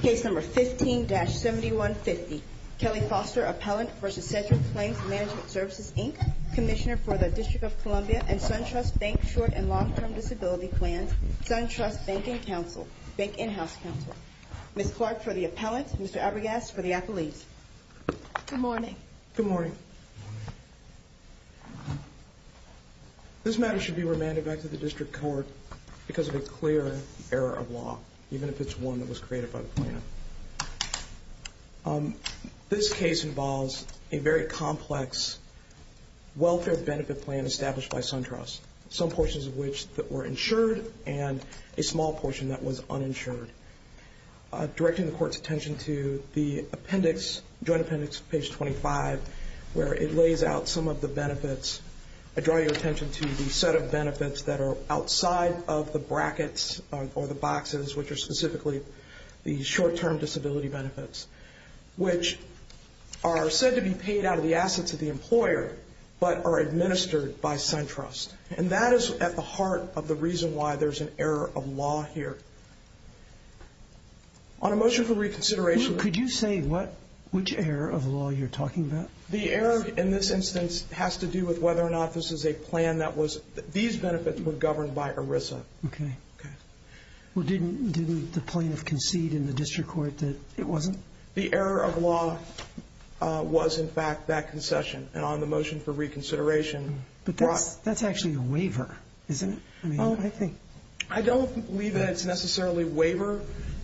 Case number 15-7150. Kelly Foster, Appellant v. Sedgwick Claims Management Services, Inc., Commissioner for the District of Columbia and SunTrust Bank Short and Long-Term Disability Plans, SunTrust Banking Council, Bank In-House Council. Ms. Clark for the Appellant, Mr. Abregast for the Appellate. Good morning. Good morning. This matter should be remanded back to the district court because of a clear error of law, even if it's one that was created by the planner. This case involves a very complex welfare benefit plan established by SunTrust, some portions of which were insured and a small portion that was uninsured. I'm directing the court's attention to the appendix, joint appendix, page 25, where it lays out some of the benefits. I draw your attention to the set of benefits that are outside of the brackets or the boxes, which are specifically the short-term disability benefits, which are said to be paid out of the assets of the employer but are administered by SunTrust. And that is at the heart of the reason why there's an error of law here. On a motion for reconsideration. Could you say what, which error of law you're talking about? The error in this instance has to do with whether or not this is a plan that was, these benefits were governed by ERISA. Okay. Okay. Well, didn't the plaintiff concede in the district court that it wasn't? The error of law was, in fact, that concession. And on the motion for reconsideration. But that's actually a waiver, isn't it? Oh, I think. I don't believe that it's necessarily a waiver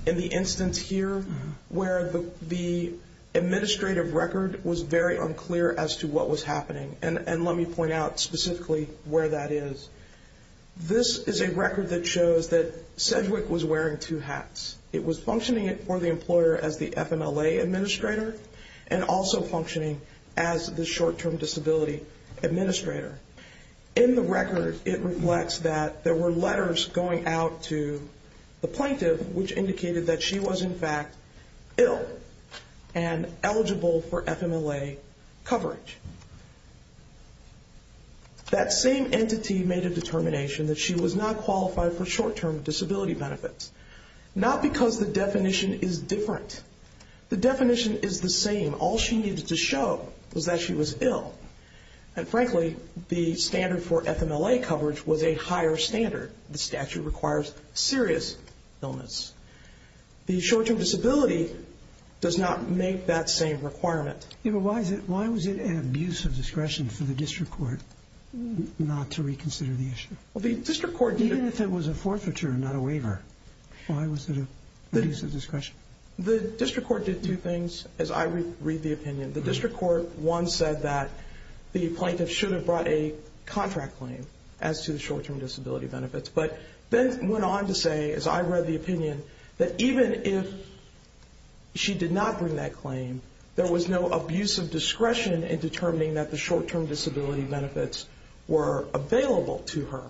in the instance here where the administrative record was very unclear as to what was happening. And let me point out specifically where that is. This is a record that shows that Sedgwick was wearing two hats. It was functioning for the employer as the FMLA administrator and also functioning as the short-term disability administrator. In the record, it reflects that there were letters going out to the plaintiff which indicated that she was, in fact, ill and eligible for FMLA coverage. That same entity made a determination that she was not qualified for short-term disability benefits. Not because the definition is different. The definition is the same. All she needed to show was that she was ill. And frankly, the standard for FMLA coverage was a higher standard. The statute requires serious illness. The short-term disability does not make that same requirement. Why was it an abuse of discretion for the district court not to reconsider the issue? Even if it was a forfeiture and not a waiver, why was it an abuse of discretion? The district court did two things, as I read the opinion. The district court, one, said that the plaintiff should have brought a contract claim as to the short-term disability benefits. But then went on to say, as I read the opinion, that even if she did not bring that claim, there was no abuse of discretion in determining that the short-term disability benefits were available to her.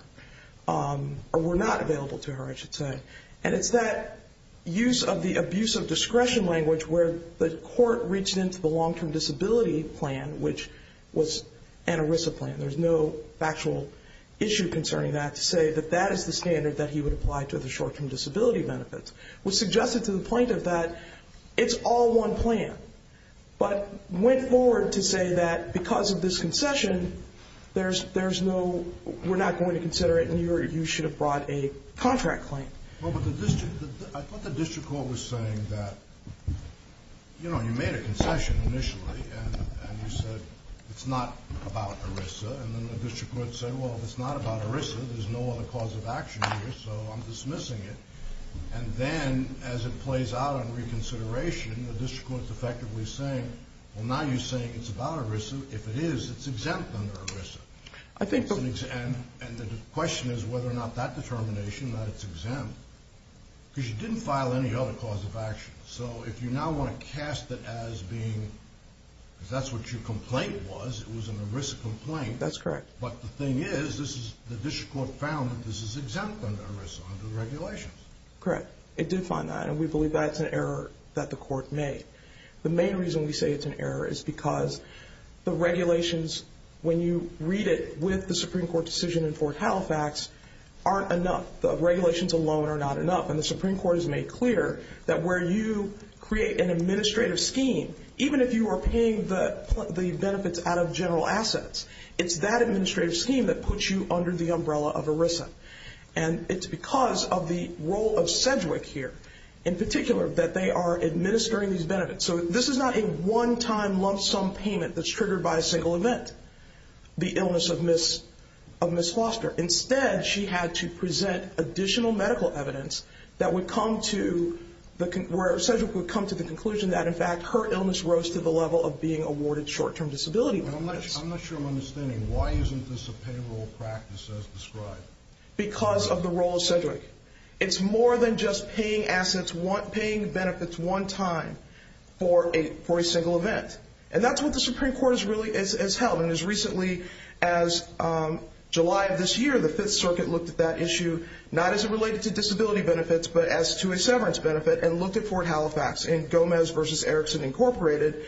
Or were not available to her, I should say. And it's that use of the abuse of discretion language where the court reached into the long-term disability plan, which was an ERISA plan. There's no factual issue concerning that to say that that is the standard that he would apply to the short-term disability benefits. It was suggested to the plaintiff that it's all one plan. But went forward to say that because of this concession, there's no, we're not going to consider it, and you should have brought a contract claim. Well, but the district, I thought the district court was saying that, you know, you made a concession initially, and you said it's not about ERISA. And then the district court said, well, if it's not about ERISA, there's no other cause of action here, so I'm dismissing it. And then as it plays out on reconsideration, the district court's effectively saying, well, now you're saying it's about ERISA. If it is, it's exempt under ERISA. And the question is whether or not that determination, that it's exempt. Because you didn't file any other cause of action. So if you now want to cast it as being, because that's what your complaint was, it was an ERISA complaint. That's correct. But the thing is, this is, the district court found that this is exempt under ERISA, under the regulations. Correct. It did find that, and we believe that's an error that the court made. The main reason we say it's an error is because the regulations, when you read it with the Supreme Court decision in Fort Halifax, aren't enough. The regulations alone are not enough. And the Supreme Court has made clear that where you create an administrative scheme, even if you are paying the benefits out of general assets, it's that administrative scheme that puts you under the umbrella of ERISA. And it's because of the role of Sedgwick here, in particular, that they are administering these benefits. So this is not a one-time lump sum payment that's triggered by a single event, the illness of Ms. Foster. Instead, she had to present additional medical evidence that would come to, where Sedgwick would come to the conclusion that, in fact, her illness rose to the level of being awarded short-term disability benefits. I'm not sure I'm understanding. Why isn't this a payroll practice as described? Because of the role of Sedgwick. It's more than just paying assets, paying benefits one time for a single event. And that's what the Supreme Court has held. And as recently as July of this year, the Fifth Circuit looked at that issue, not as it related to disability benefits, but as to a severance benefit, and looked at Fort Halifax. And Gomez v. Erickson, Inc.,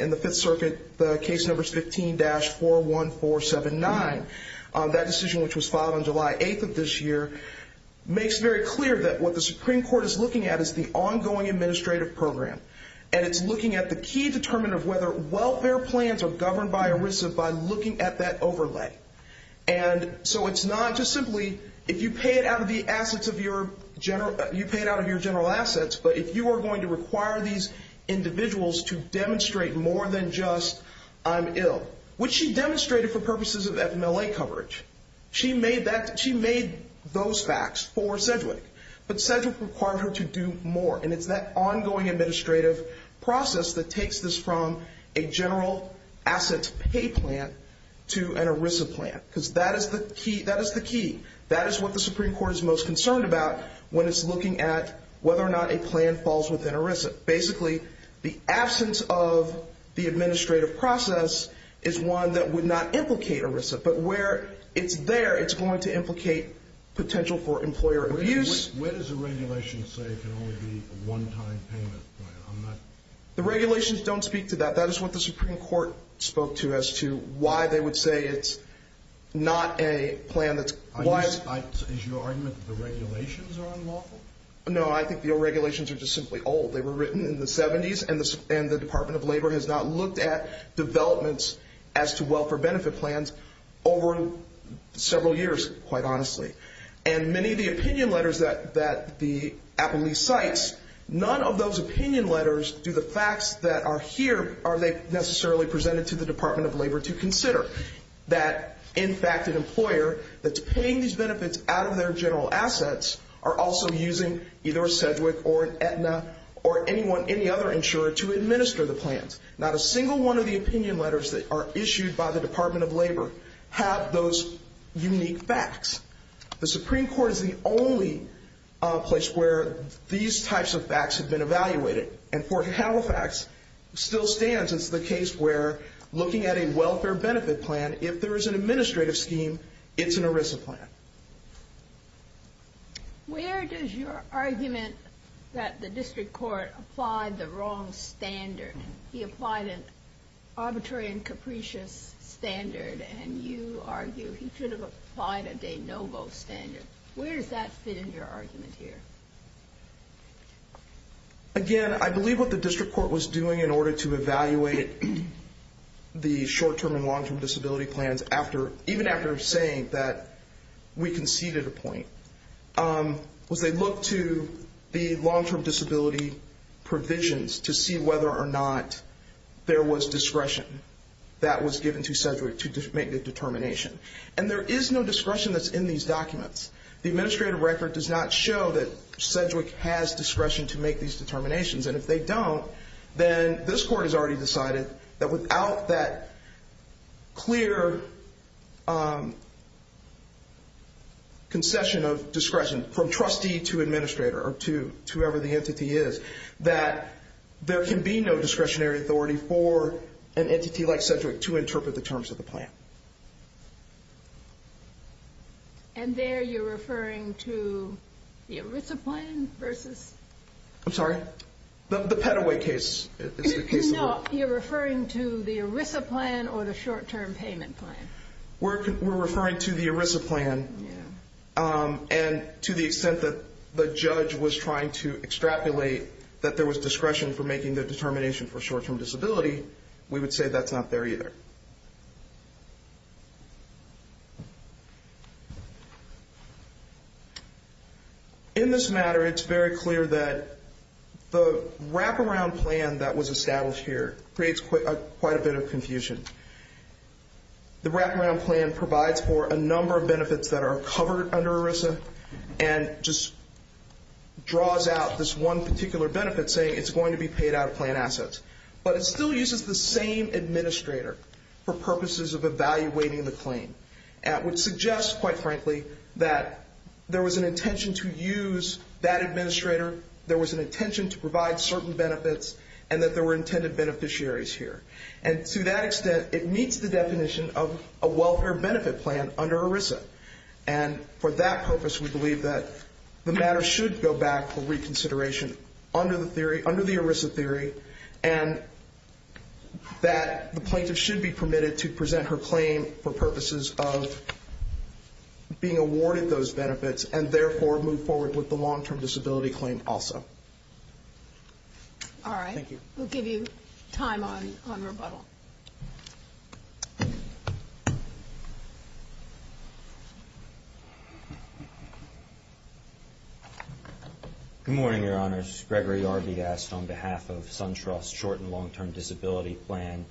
in the Fifth Circuit, the case number is 15-41479. That decision, which was filed on July 8th of this year, makes very clear that what the Supreme Court is looking at is the ongoing administrative program. And it's looking at the key determinant of whether welfare plans are governed by ERISA by looking at that overlay. And so it's not just simply if you pay it out of the assets of your general assets, but if you are going to require these individuals to demonstrate more than just I'm ill, which she demonstrated for purposes of FMLA coverage. She made those facts for Sedgwick. But Sedgwick required her to do more. And it's that ongoing administrative process that takes this from a general assets pay plan to an ERISA plan. Because that is the key. That is what the Supreme Court is most concerned about when it's looking at whether or not a plan falls within ERISA. Basically, the absence of the administrative process is one that would not implicate ERISA. But where it's there, it's going to implicate potential for employer abuse. Where does the regulation say it can only be a one-time payment plan? The regulations don't speak to that. That is what the Supreme Court spoke to as to why they would say it's not a plan that's wise. Is your argument that the regulations are unlawful? No, I think the regulations are just simply old. They were written in the 70s, and the Department of Labor has not looked at developments as to welfare benefit plans over several years, quite honestly. And many of the opinion letters that the Appellee cites, none of those opinion letters do the facts that are here, are they necessarily presented to the Department of Labor to consider. That, in fact, an employer that's paying these benefits out of their general assets are also using either a Sedgwick or an Aetna or anyone, any other insurer to administer the plans. Not a single one of the opinion letters that are issued by the Department of Labor have those unique facts. The Supreme Court is the only place where these types of facts have been evaluated, and Fort Halifax still stands as the case where looking at a welfare benefit plan, if there is an administrative scheme, it's an ERISA plan. Where does your argument that the district court applied the wrong standard? He applied an arbitrary and capricious standard, and you argue he should have applied a de novo standard. Where does that fit in your argument here? Again, I believe what the district court was doing in order to evaluate the short-term and long-term disability plans, even after saying that we conceded a point, was they looked to the long-term disability provisions to see whether or not there was discretion that was given to Sedgwick to make the determination. And there is no discretion that's in these documents. The administrative record does not show that Sedgwick has discretion to make these determinations, and if they don't, then this court has already decided that without that clear concession of discretion from trustee to administrator or to whoever the entity is, that there can be no discretionary authority for an entity like Sedgwick to interpret the terms of the plan. And there you're referring to the ERISA plan versus... I'm sorry? The Pettaway case. No, you're referring to the ERISA plan or the short-term payment plan. We're referring to the ERISA plan, and to the extent that the judge was trying to extrapolate that there was discretion for making the determination for short-term disability, we would say that's not there either. In this matter, it's very clear that the wraparound plan that was established here creates quite a bit of confusion. The wraparound plan provides for a number of benefits that are covered under ERISA and just draws out this one particular benefit saying it's going to be paid out of plan assets. But it still uses the same administrator. for purposes of evaluating the claim, which suggests, quite frankly, that there was an intention to use that administrator, there was an intention to provide certain benefits, and that there were intended beneficiaries here. And to that extent, it meets the definition of a welfare benefit plan under ERISA. And for that purpose, we believe that the matter should go back for reconsideration under the ERISA theory and that the plaintiff should be permitted to present her claim for purposes of being awarded those benefits and therefore move forward with the long-term disability claim also. All right. Thank you. We'll give you time on rebuttal. Good morning, Your Honors. Gregory Yarby asked on behalf of SunTrust Short and Long-Term Disability Plan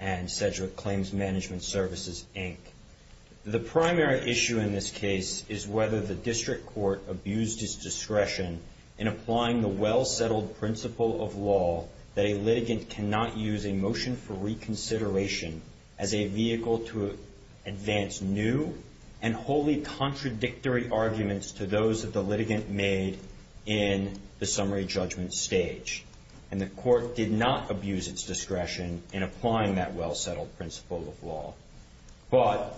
and Sedgwick Claims Management Services, Inc., the primary issue in this case is whether the district court abused its discretion in applying the well-settled principle of law that a litigant cannot use a motion for reconsideration as a vehicle to advance new and wholly contradictory arguments to those that the litigant made in the summary judgment stage. And the court did not abuse its discretion in applying that well-settled principle of law. But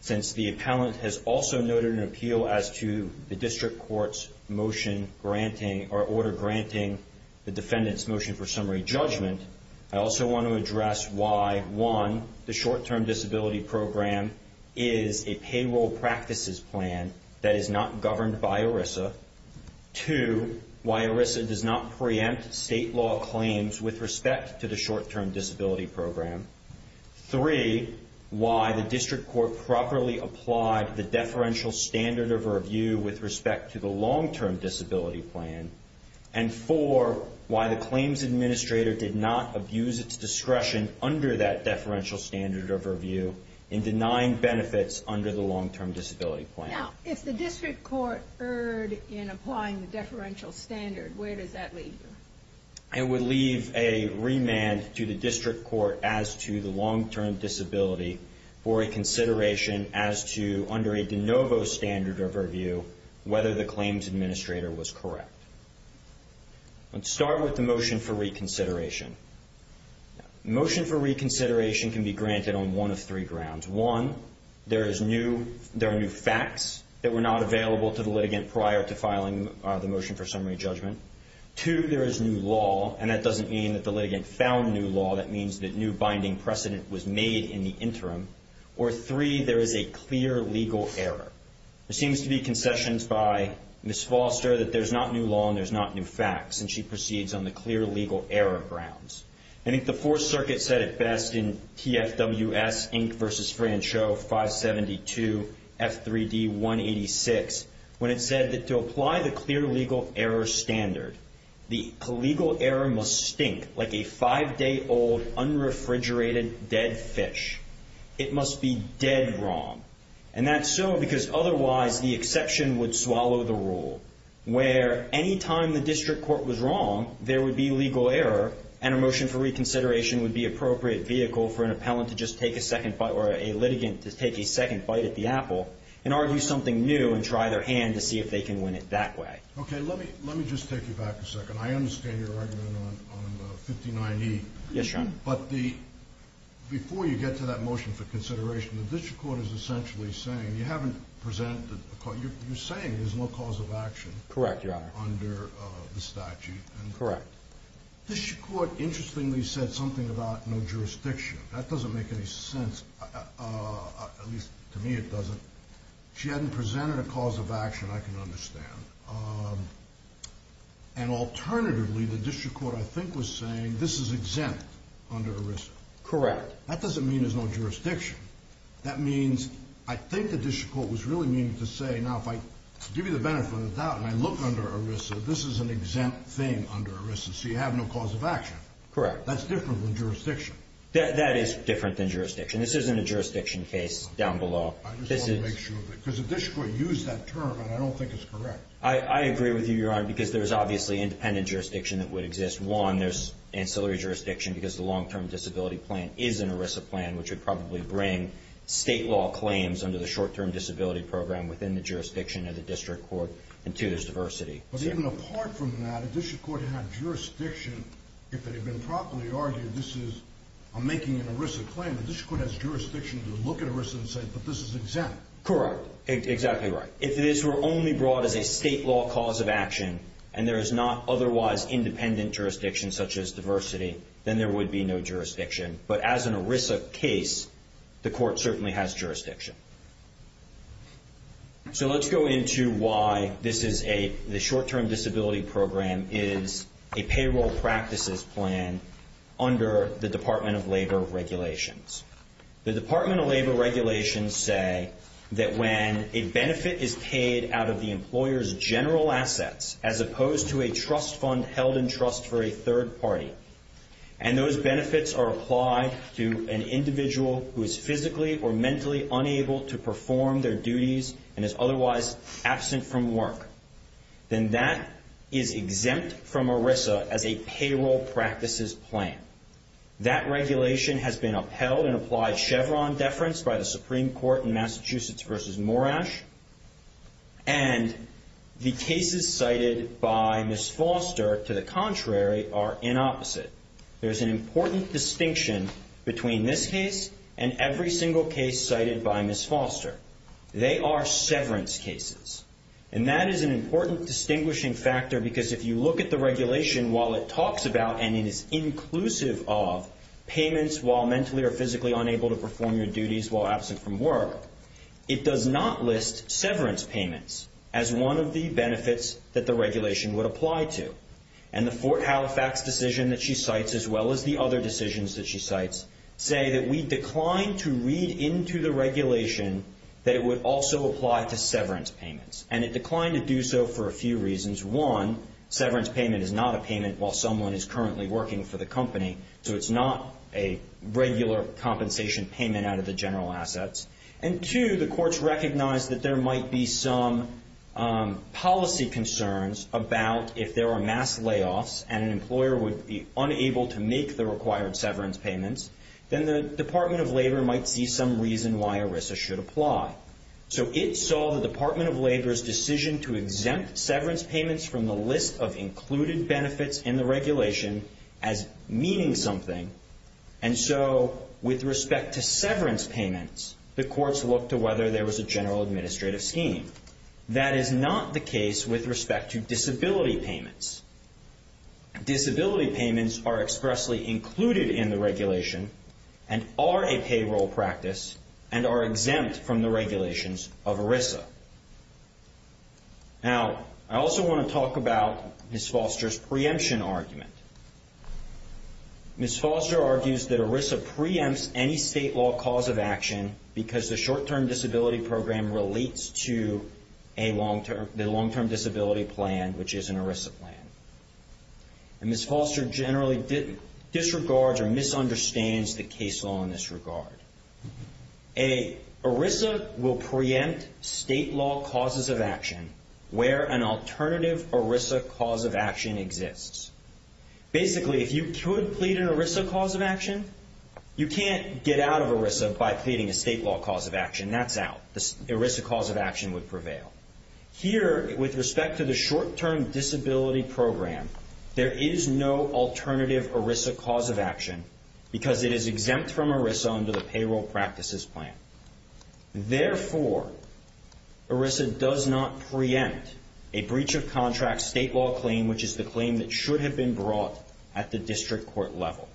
since the appellant has also noted an appeal as to the district court's motion granting or order granting the defendant's motion for summary judgment, I also want to address why, one, the short-term disability program is a payroll practices plan that is not governed by ERISA. Two, why ERISA does not preempt state law claims with respect to the short-term disability program. Three, why the district court properly applied the deferential standard of review with respect to the long-term disability plan. And four, why the claims administrator did not abuse its discretion under that deferential standard of review in denying benefits under the long-term disability plan. Now, if the district court erred in applying the deferential standard, where does that leave you? It would leave a remand to the district court as to the long-term disability for a consideration as to, under a de novo standard of review, whether the claims administrator was correct. Let's start with the motion for reconsideration. Motion for reconsideration can be granted on one of three grounds. One, there are new facts that were not available to the litigant prior to filing the motion for summary judgment. Two, there is new law, and that doesn't mean that the litigant found new law. Or three, there is a clear legal error. There seems to be concessions by Ms. Foster that there's not new law and there's not new facts, and she proceeds on the clear legal error grounds. I think the Fourth Circuit said it best in TFWS Inc. v. Franchot 572 F3D 186 when it said that to apply the clear legal error standard, the legal error must stink like a five-day-old unrefrigerated dead fish. It must be dead wrong. And that's so because otherwise the exception would swallow the rule, where any time the district court was wrong, there would be legal error, and a motion for reconsideration would be appropriate vehicle for an appellant to just take a second fight or a litigant to take a second fight at the apple and argue something new and try their hand to see if they can win it that way. Okay, let me just take you back a second. I understand your argument on 59E. Yes, Your Honor. But before you get to that motion for consideration, the district court is essentially saying you haven't presented a cause. You're saying there's no cause of action. Correct, Your Honor. Under the statute. Correct. The district court interestingly said something about no jurisdiction. That doesn't make any sense. At least to me it doesn't. She hadn't presented a cause of action, I can understand. And alternatively, the district court I think was saying this is exempt under ERISA. Correct. That doesn't mean there's no jurisdiction. That means I think the district court was really meaning to say, now if I give you the benefit of the doubt and I look under ERISA, this is an exempt thing under ERISA. So you have no cause of action. Correct. That's different than jurisdiction. That is different than jurisdiction. This isn't a jurisdiction case down below. I just want to make sure of it. Because the district court used that term and I don't think it's correct. I agree with you, Your Honor, because there's obviously independent jurisdiction that would exist. One, there's ancillary jurisdiction because the long-term disability plan is an ERISA plan, which would probably bring state law claims under the short-term disability program within the jurisdiction of the district court. And two, there's diversity. But even apart from that, if the district court had jurisdiction, if it had been properly argued this is making an ERISA claim, the district court has jurisdiction to look at ERISA and say, but this is exempt. Correct. Exactly right. If this were only brought as a state law cause of action and there is not otherwise independent jurisdiction such as diversity, then there would be no jurisdiction. But as an ERISA case, the court certainly has jurisdiction. So let's go into why this is a short-term disability program is a payroll practices plan under the Department of Labor regulations. The Department of Labor regulations say that when a benefit is paid out of the employer's general assets as opposed to a trust fund held in trust for a third party, and those benefits are applied to an individual who is physically or mentally unable to perform their duties and is otherwise absent from work, then that is exempt from ERISA as a payroll practices plan. That regulation has been upheld and applied Chevron deference by the Supreme Court in Massachusetts v. Morash. And the cases cited by Ms. Foster, to the contrary, are inopposite. There's an important distinction between this case and every single case cited by Ms. Foster. They are severance cases. And that is an important distinguishing factor because if you look at the regulation while it talks about and it is inclusive of payments while mentally or physically unable to perform your duties while absent from work, it does not list severance payments as one of the benefits that the regulation would apply to. And the Fort Halifax decision that she cites, as well as the other decisions that she cites, say that we declined to read into the regulation that it would also apply to severance payments. And it declined to do so for a few reasons. One, severance payment is not a payment while someone is currently working for the company, so it's not a regular compensation payment out of the general assets. And two, the courts recognized that there might be some policy concerns about if there are mass layoffs and an employer would be unable to make the required severance payments, then the Department of Labor might see some reason why ERISA should apply. So it saw the Department of Labor's decision to exempt severance payments from the list of included benefits in the regulation as meaning something. And so with respect to severance payments, the courts looked to whether there was a general administrative scheme. That is not the case with respect to disability payments. Disability payments are expressly included in the regulation and are a payroll practice and are exempt from the regulations of ERISA. Now, I also want to talk about Ms. Foster's preemption argument. Ms. Foster argues that ERISA preempts any state law cause of action because the short-term disability program relates to the long-term disability plan, which is an ERISA plan. And Ms. Foster generally disregards or misunderstands the case law in this regard. A ERISA will preempt state law causes of action where an alternative ERISA cause of action exists. Basically, if you could plead an ERISA cause of action, you can't get out of ERISA by pleading a state law cause of action. That's out. The ERISA cause of action would prevail. Here, with respect to the short-term disability program, there is no alternative ERISA cause of action because it is exempt from ERISA under the payroll practices plan. Therefore, ERISA does not preempt a breach of contract state law claim, which is the claim that should have been brought at the district court level.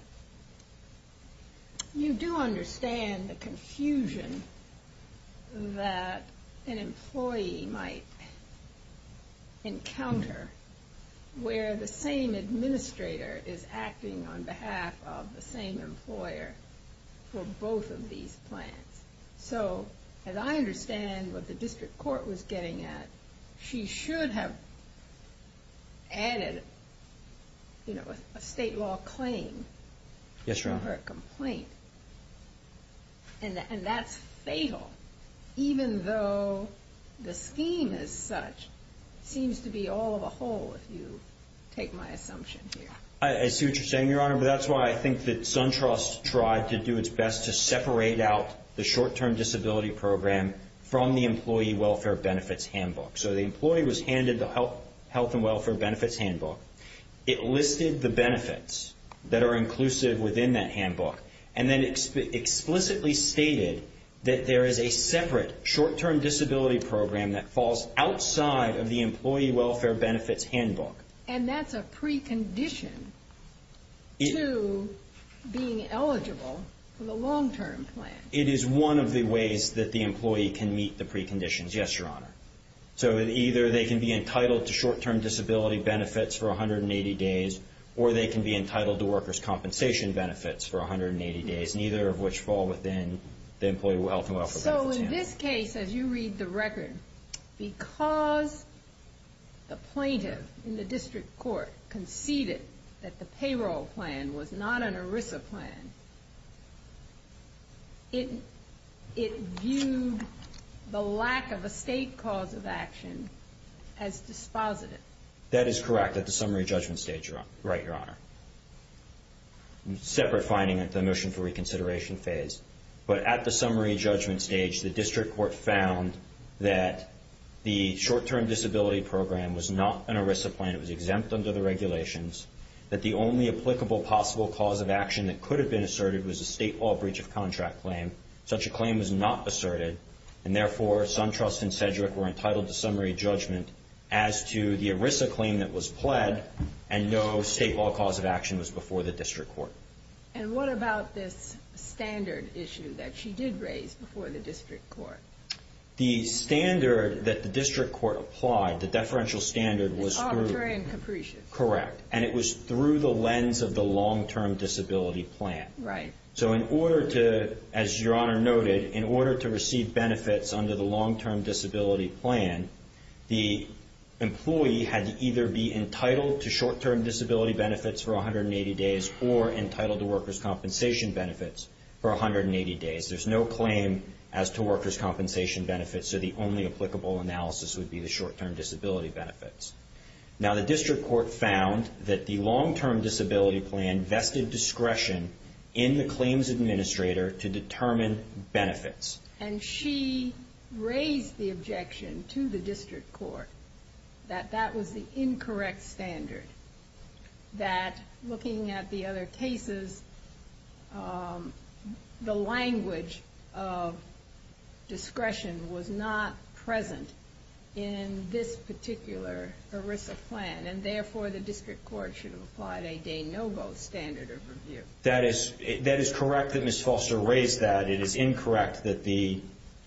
You do understand the confusion that an employee might encounter where the same administrator is acting on behalf of the same employer for both of these plans. So, as I understand what the district court was getting at, she should have added a state law claim to her complaint. And that's fatal, even though the scheme as such seems to be all of a whole, if you take my assumption here. I see what you're saying, Your Honor, but that's why I think that SunTrust tried to do its best to separate out the short-term disability program from the Employee Welfare Benefits Handbook. So, the employee was handed the Health and Welfare Benefits Handbook. It listed the benefits that are inclusive within that handbook and then explicitly stated that there is a separate short-term disability program that falls outside of the Employee Welfare Benefits Handbook. And that's a precondition to being eligible for the long-term plan. It is one of the ways that the employee can meet the preconditions, yes, Your Honor. So, either they can be entitled to short-term disability benefits for 180 days or they can be entitled to workers' compensation benefits for 180 days, neither of which fall within the Employee Welfare Benefits Handbook. So, in this case, as you read the record, because the plaintiff in the district court conceded that the payroll plan was not an ERISA plan, it viewed the lack of a state cause of action as dispositive. That is correct at the summary judgment stage, right, Your Honor. Separate finding at the motion for reconsideration phase. But at the summary judgment stage, the district court found that the short-term disability program was not an ERISA plan. It was exempt under the regulations. That the only applicable possible cause of action that could have been asserted was a state law breach of contract claim. Such a claim was not asserted, and therefore, Suntrust and Sedgwick were entitled to summary judgment as to the ERISA claim that was pled and no state law cause of action was before the district court. And what about this standard issue that she did raise before the district court? The standard that the district court applied, the deferential standard, was through... The arbitrary and capricious. Correct. And it was through the lens of the long-term disability plan. Right. So in order to, as Your Honor noted, in order to receive benefits under the long-term disability plan, the employee had to either be entitled to short-term disability benefits for 180 days or entitled to workers' compensation benefits for 180 days. There's no claim as to workers' compensation benefits, so the only applicable analysis would be the short-term disability benefits. Now, the district court found that the long-term disability plan vested discretion in the claims administrator to determine benefits. And she raised the objection to the district court that that was the incorrect standard, that looking at the other cases, the language of discretion was not present in this particular ERISA plan, and therefore the district court should have applied a de novo standard of review. That is correct that Ms. Foster raised that. It is incorrect that the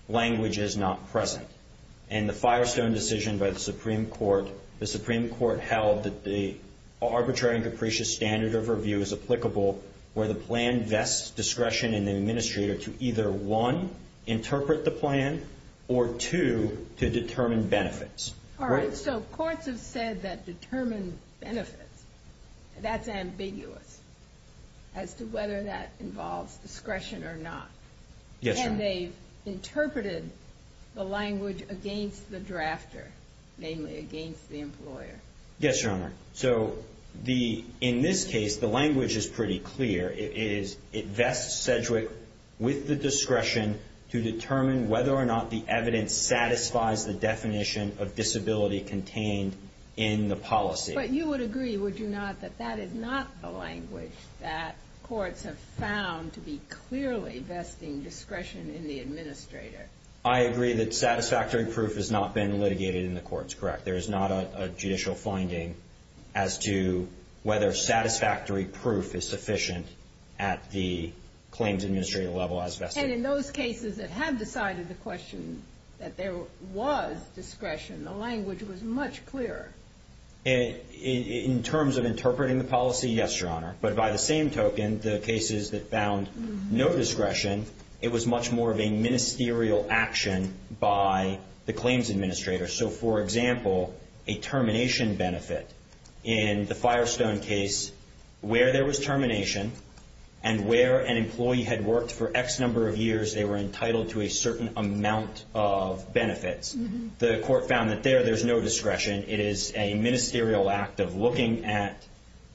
language is not present. In the Firestone decision by the Supreme Court, the Supreme Court held that the arbitrary and capricious standard of review is applicable where the plan vests discretion in the administrator to either, one, interpret the plan, or, two, to determine benefits. All right. So courts have said that determine benefits. That's ambiguous as to whether that involves discretion or not. Yes, Your Honor. And they've interpreted the language against the drafter, namely against the employer. Yes, Your Honor. So the – in this case, the language is pretty clear. It is – it vests Sedgwick with the discretion to determine whether or not the evidence satisfies the definition of disability contained in the policy. But you would agree, would you not, that that is not the language that courts have found to be clearly vesting discretion in the administrator? I agree that satisfactory proof has not been litigated in the courts, correct. There is not a judicial finding as to whether satisfactory proof is sufficient at the claims administrator level as vested. And in those cases that have decided the question that there was discretion, the language was much clearer. In terms of interpreting the policy, yes, Your Honor. But by the same token, the cases that found no discretion, it was much more of a ministerial action by the claims administrator. So, for example, a termination benefit in the Firestone case where there was termination and where an employee had worked for X number of years, they were entitled to a certain amount of benefits. The court found that there, there's no discretion. It is a ministerial act of looking at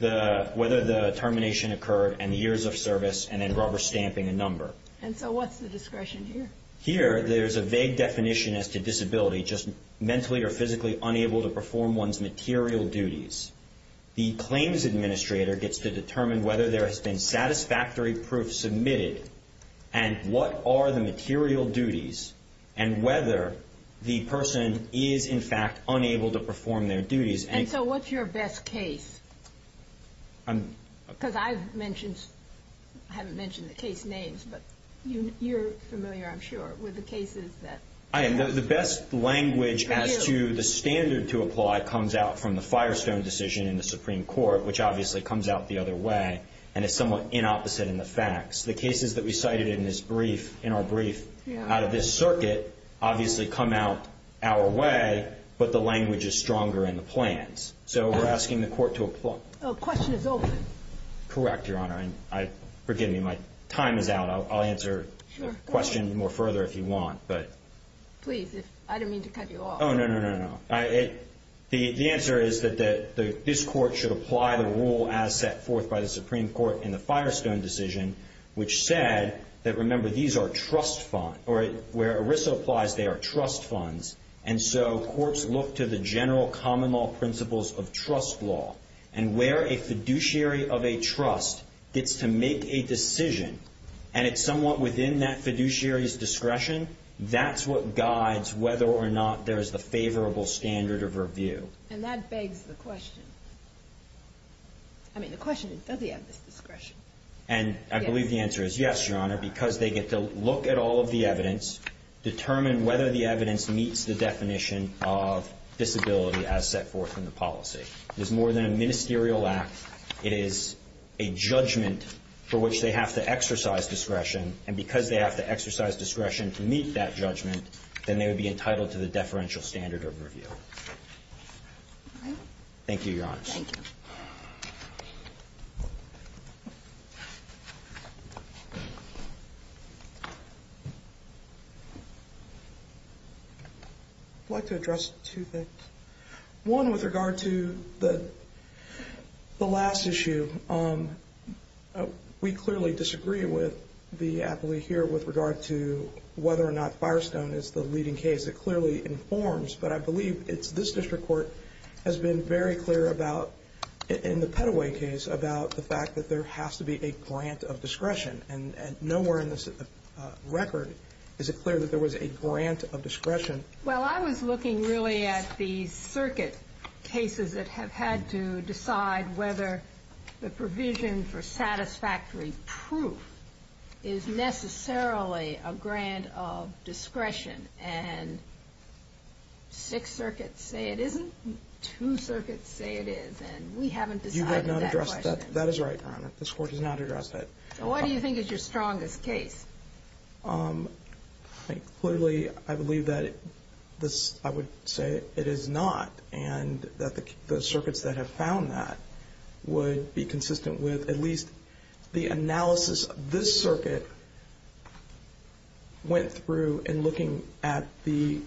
whether the termination occurred and the years of service and then rubber stamping a number. And so what's the discretion here? Here, there's a vague definition as to disability, just mentally or physically unable to perform one's material duties. The claims administrator gets to determine whether there has been satisfactory proof submitted and what are the material duties and whether the person is, in fact, unable to perform their duties. And so what's your best case? Because I've mentioned, I haven't mentioned the case names, but you're familiar, I'm sure, with the cases that. I am. The best language as to the standard to apply comes out from the Firestone decision in the Supreme Court, which obviously comes out the other way and is somewhat inopposite in the facts. The cases that we cited in this brief, in our brief out of this circuit, obviously come out our way, but the language is stronger in the plans. So we're asking the court to apply. The question is open. Correct, Your Honor. Forgive me, my time is out. I'll answer questions more further if you want. Please, I don't mean to cut you off. Oh, no, no, no, no. The answer is that this court should apply the rule as set forth by the Supreme Court in the Firestone decision, which said that, remember, these are trust funds, or where ERISA applies, they are trust funds, and so courts look to the general common law principles of trust law and where a fiduciary of a trust gets to make a decision and it's somewhat within that fiduciary's discretion, that's what guides whether or not there is a favorable standard of review. And that begs the question. I mean, the question is, does he have this discretion? And I believe the answer is yes, Your Honor, because they get to look at all of the evidence, determine whether the evidence meets the definition of disability as set forth in the policy. It is more than a ministerial act. It is a judgment for which they have to exercise discretion, and because they have to exercise discretion to meet that judgment, then they would be entitled to the deferential standard of review. Thank you, Your Honor. Thank you. Thank you. I'd like to address two things. One, with regard to the last issue, we clearly disagree with the appellee here with regard to whether or not Firestone is the leading case. It clearly informs, but I believe it's this district court has been very clear about, in the Petaway case, about the fact that there has to be a grant of discretion. And nowhere in this record is it clear that there was a grant of discretion. Well, I was looking really at the circuit cases that have had to decide whether the provision for satisfactory proof is necessarily a grant of discretion. And six circuits say it isn't, two circuits say it is, and we haven't decided that question. You have not addressed that. That is right, Your Honor. This Court has not addressed that. So what do you think is your strongest case? Clearly, I believe that this, I would say it is not, and that the circuits that have found that would be consistent with at least the analysis this circuit went through in looking at the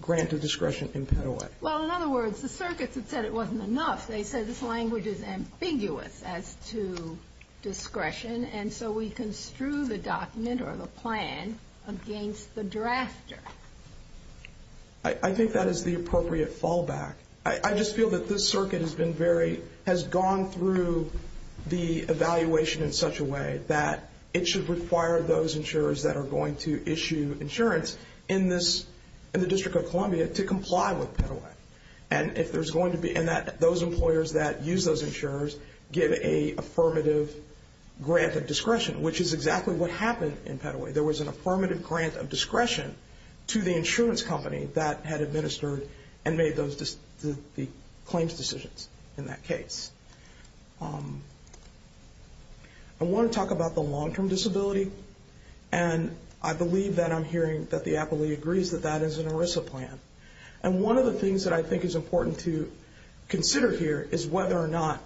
grant of discretion in Petaway. Well, in other words, the circuits that said it wasn't enough, they said this language is ambiguous as to discretion, and so we construe the document or the plan against the drafter. I think that is the appropriate fallback. I just feel that this circuit has gone through the evaluation in such a way that it should require those insurers that are going to issue insurance in the District of Columbia to comply with Petaway, and that those employers that use those insurers give a affirmative grant of discretion, which is exactly what happened in Petaway. There was an affirmative grant of discretion to the insurance company that had administered and made the claims decisions in that case. I want to talk about the long-term disability, and I believe that I'm hearing that the appellee agrees that that is an ERISA plan. And one of the things that I think is important to consider here is whether or not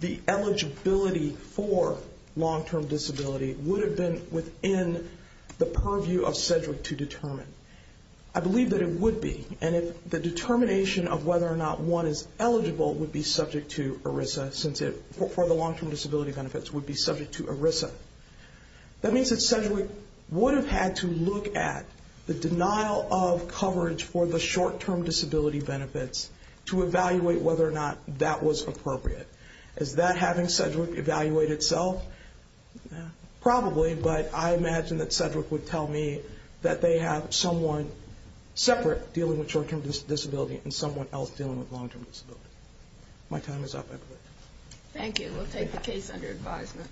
the eligibility for long-term disability would have been within the purview of CEDRIC to determine. I believe that it would be, and the determination of whether or not one is eligible would be subject to ERISA since it, for the long-term disability benefits, would be subject to ERISA. That means that CEDRIC would have had to look at the denial of coverage for the short-term disability benefits to evaluate whether or not that was appropriate. Is that having CEDRIC evaluate itself? Probably, but I imagine that CEDRIC would tell me that they have someone separate dealing with short-term disability and someone else dealing with long-term disability. My time is up, I believe. Thank you. We'll take the case under advisement.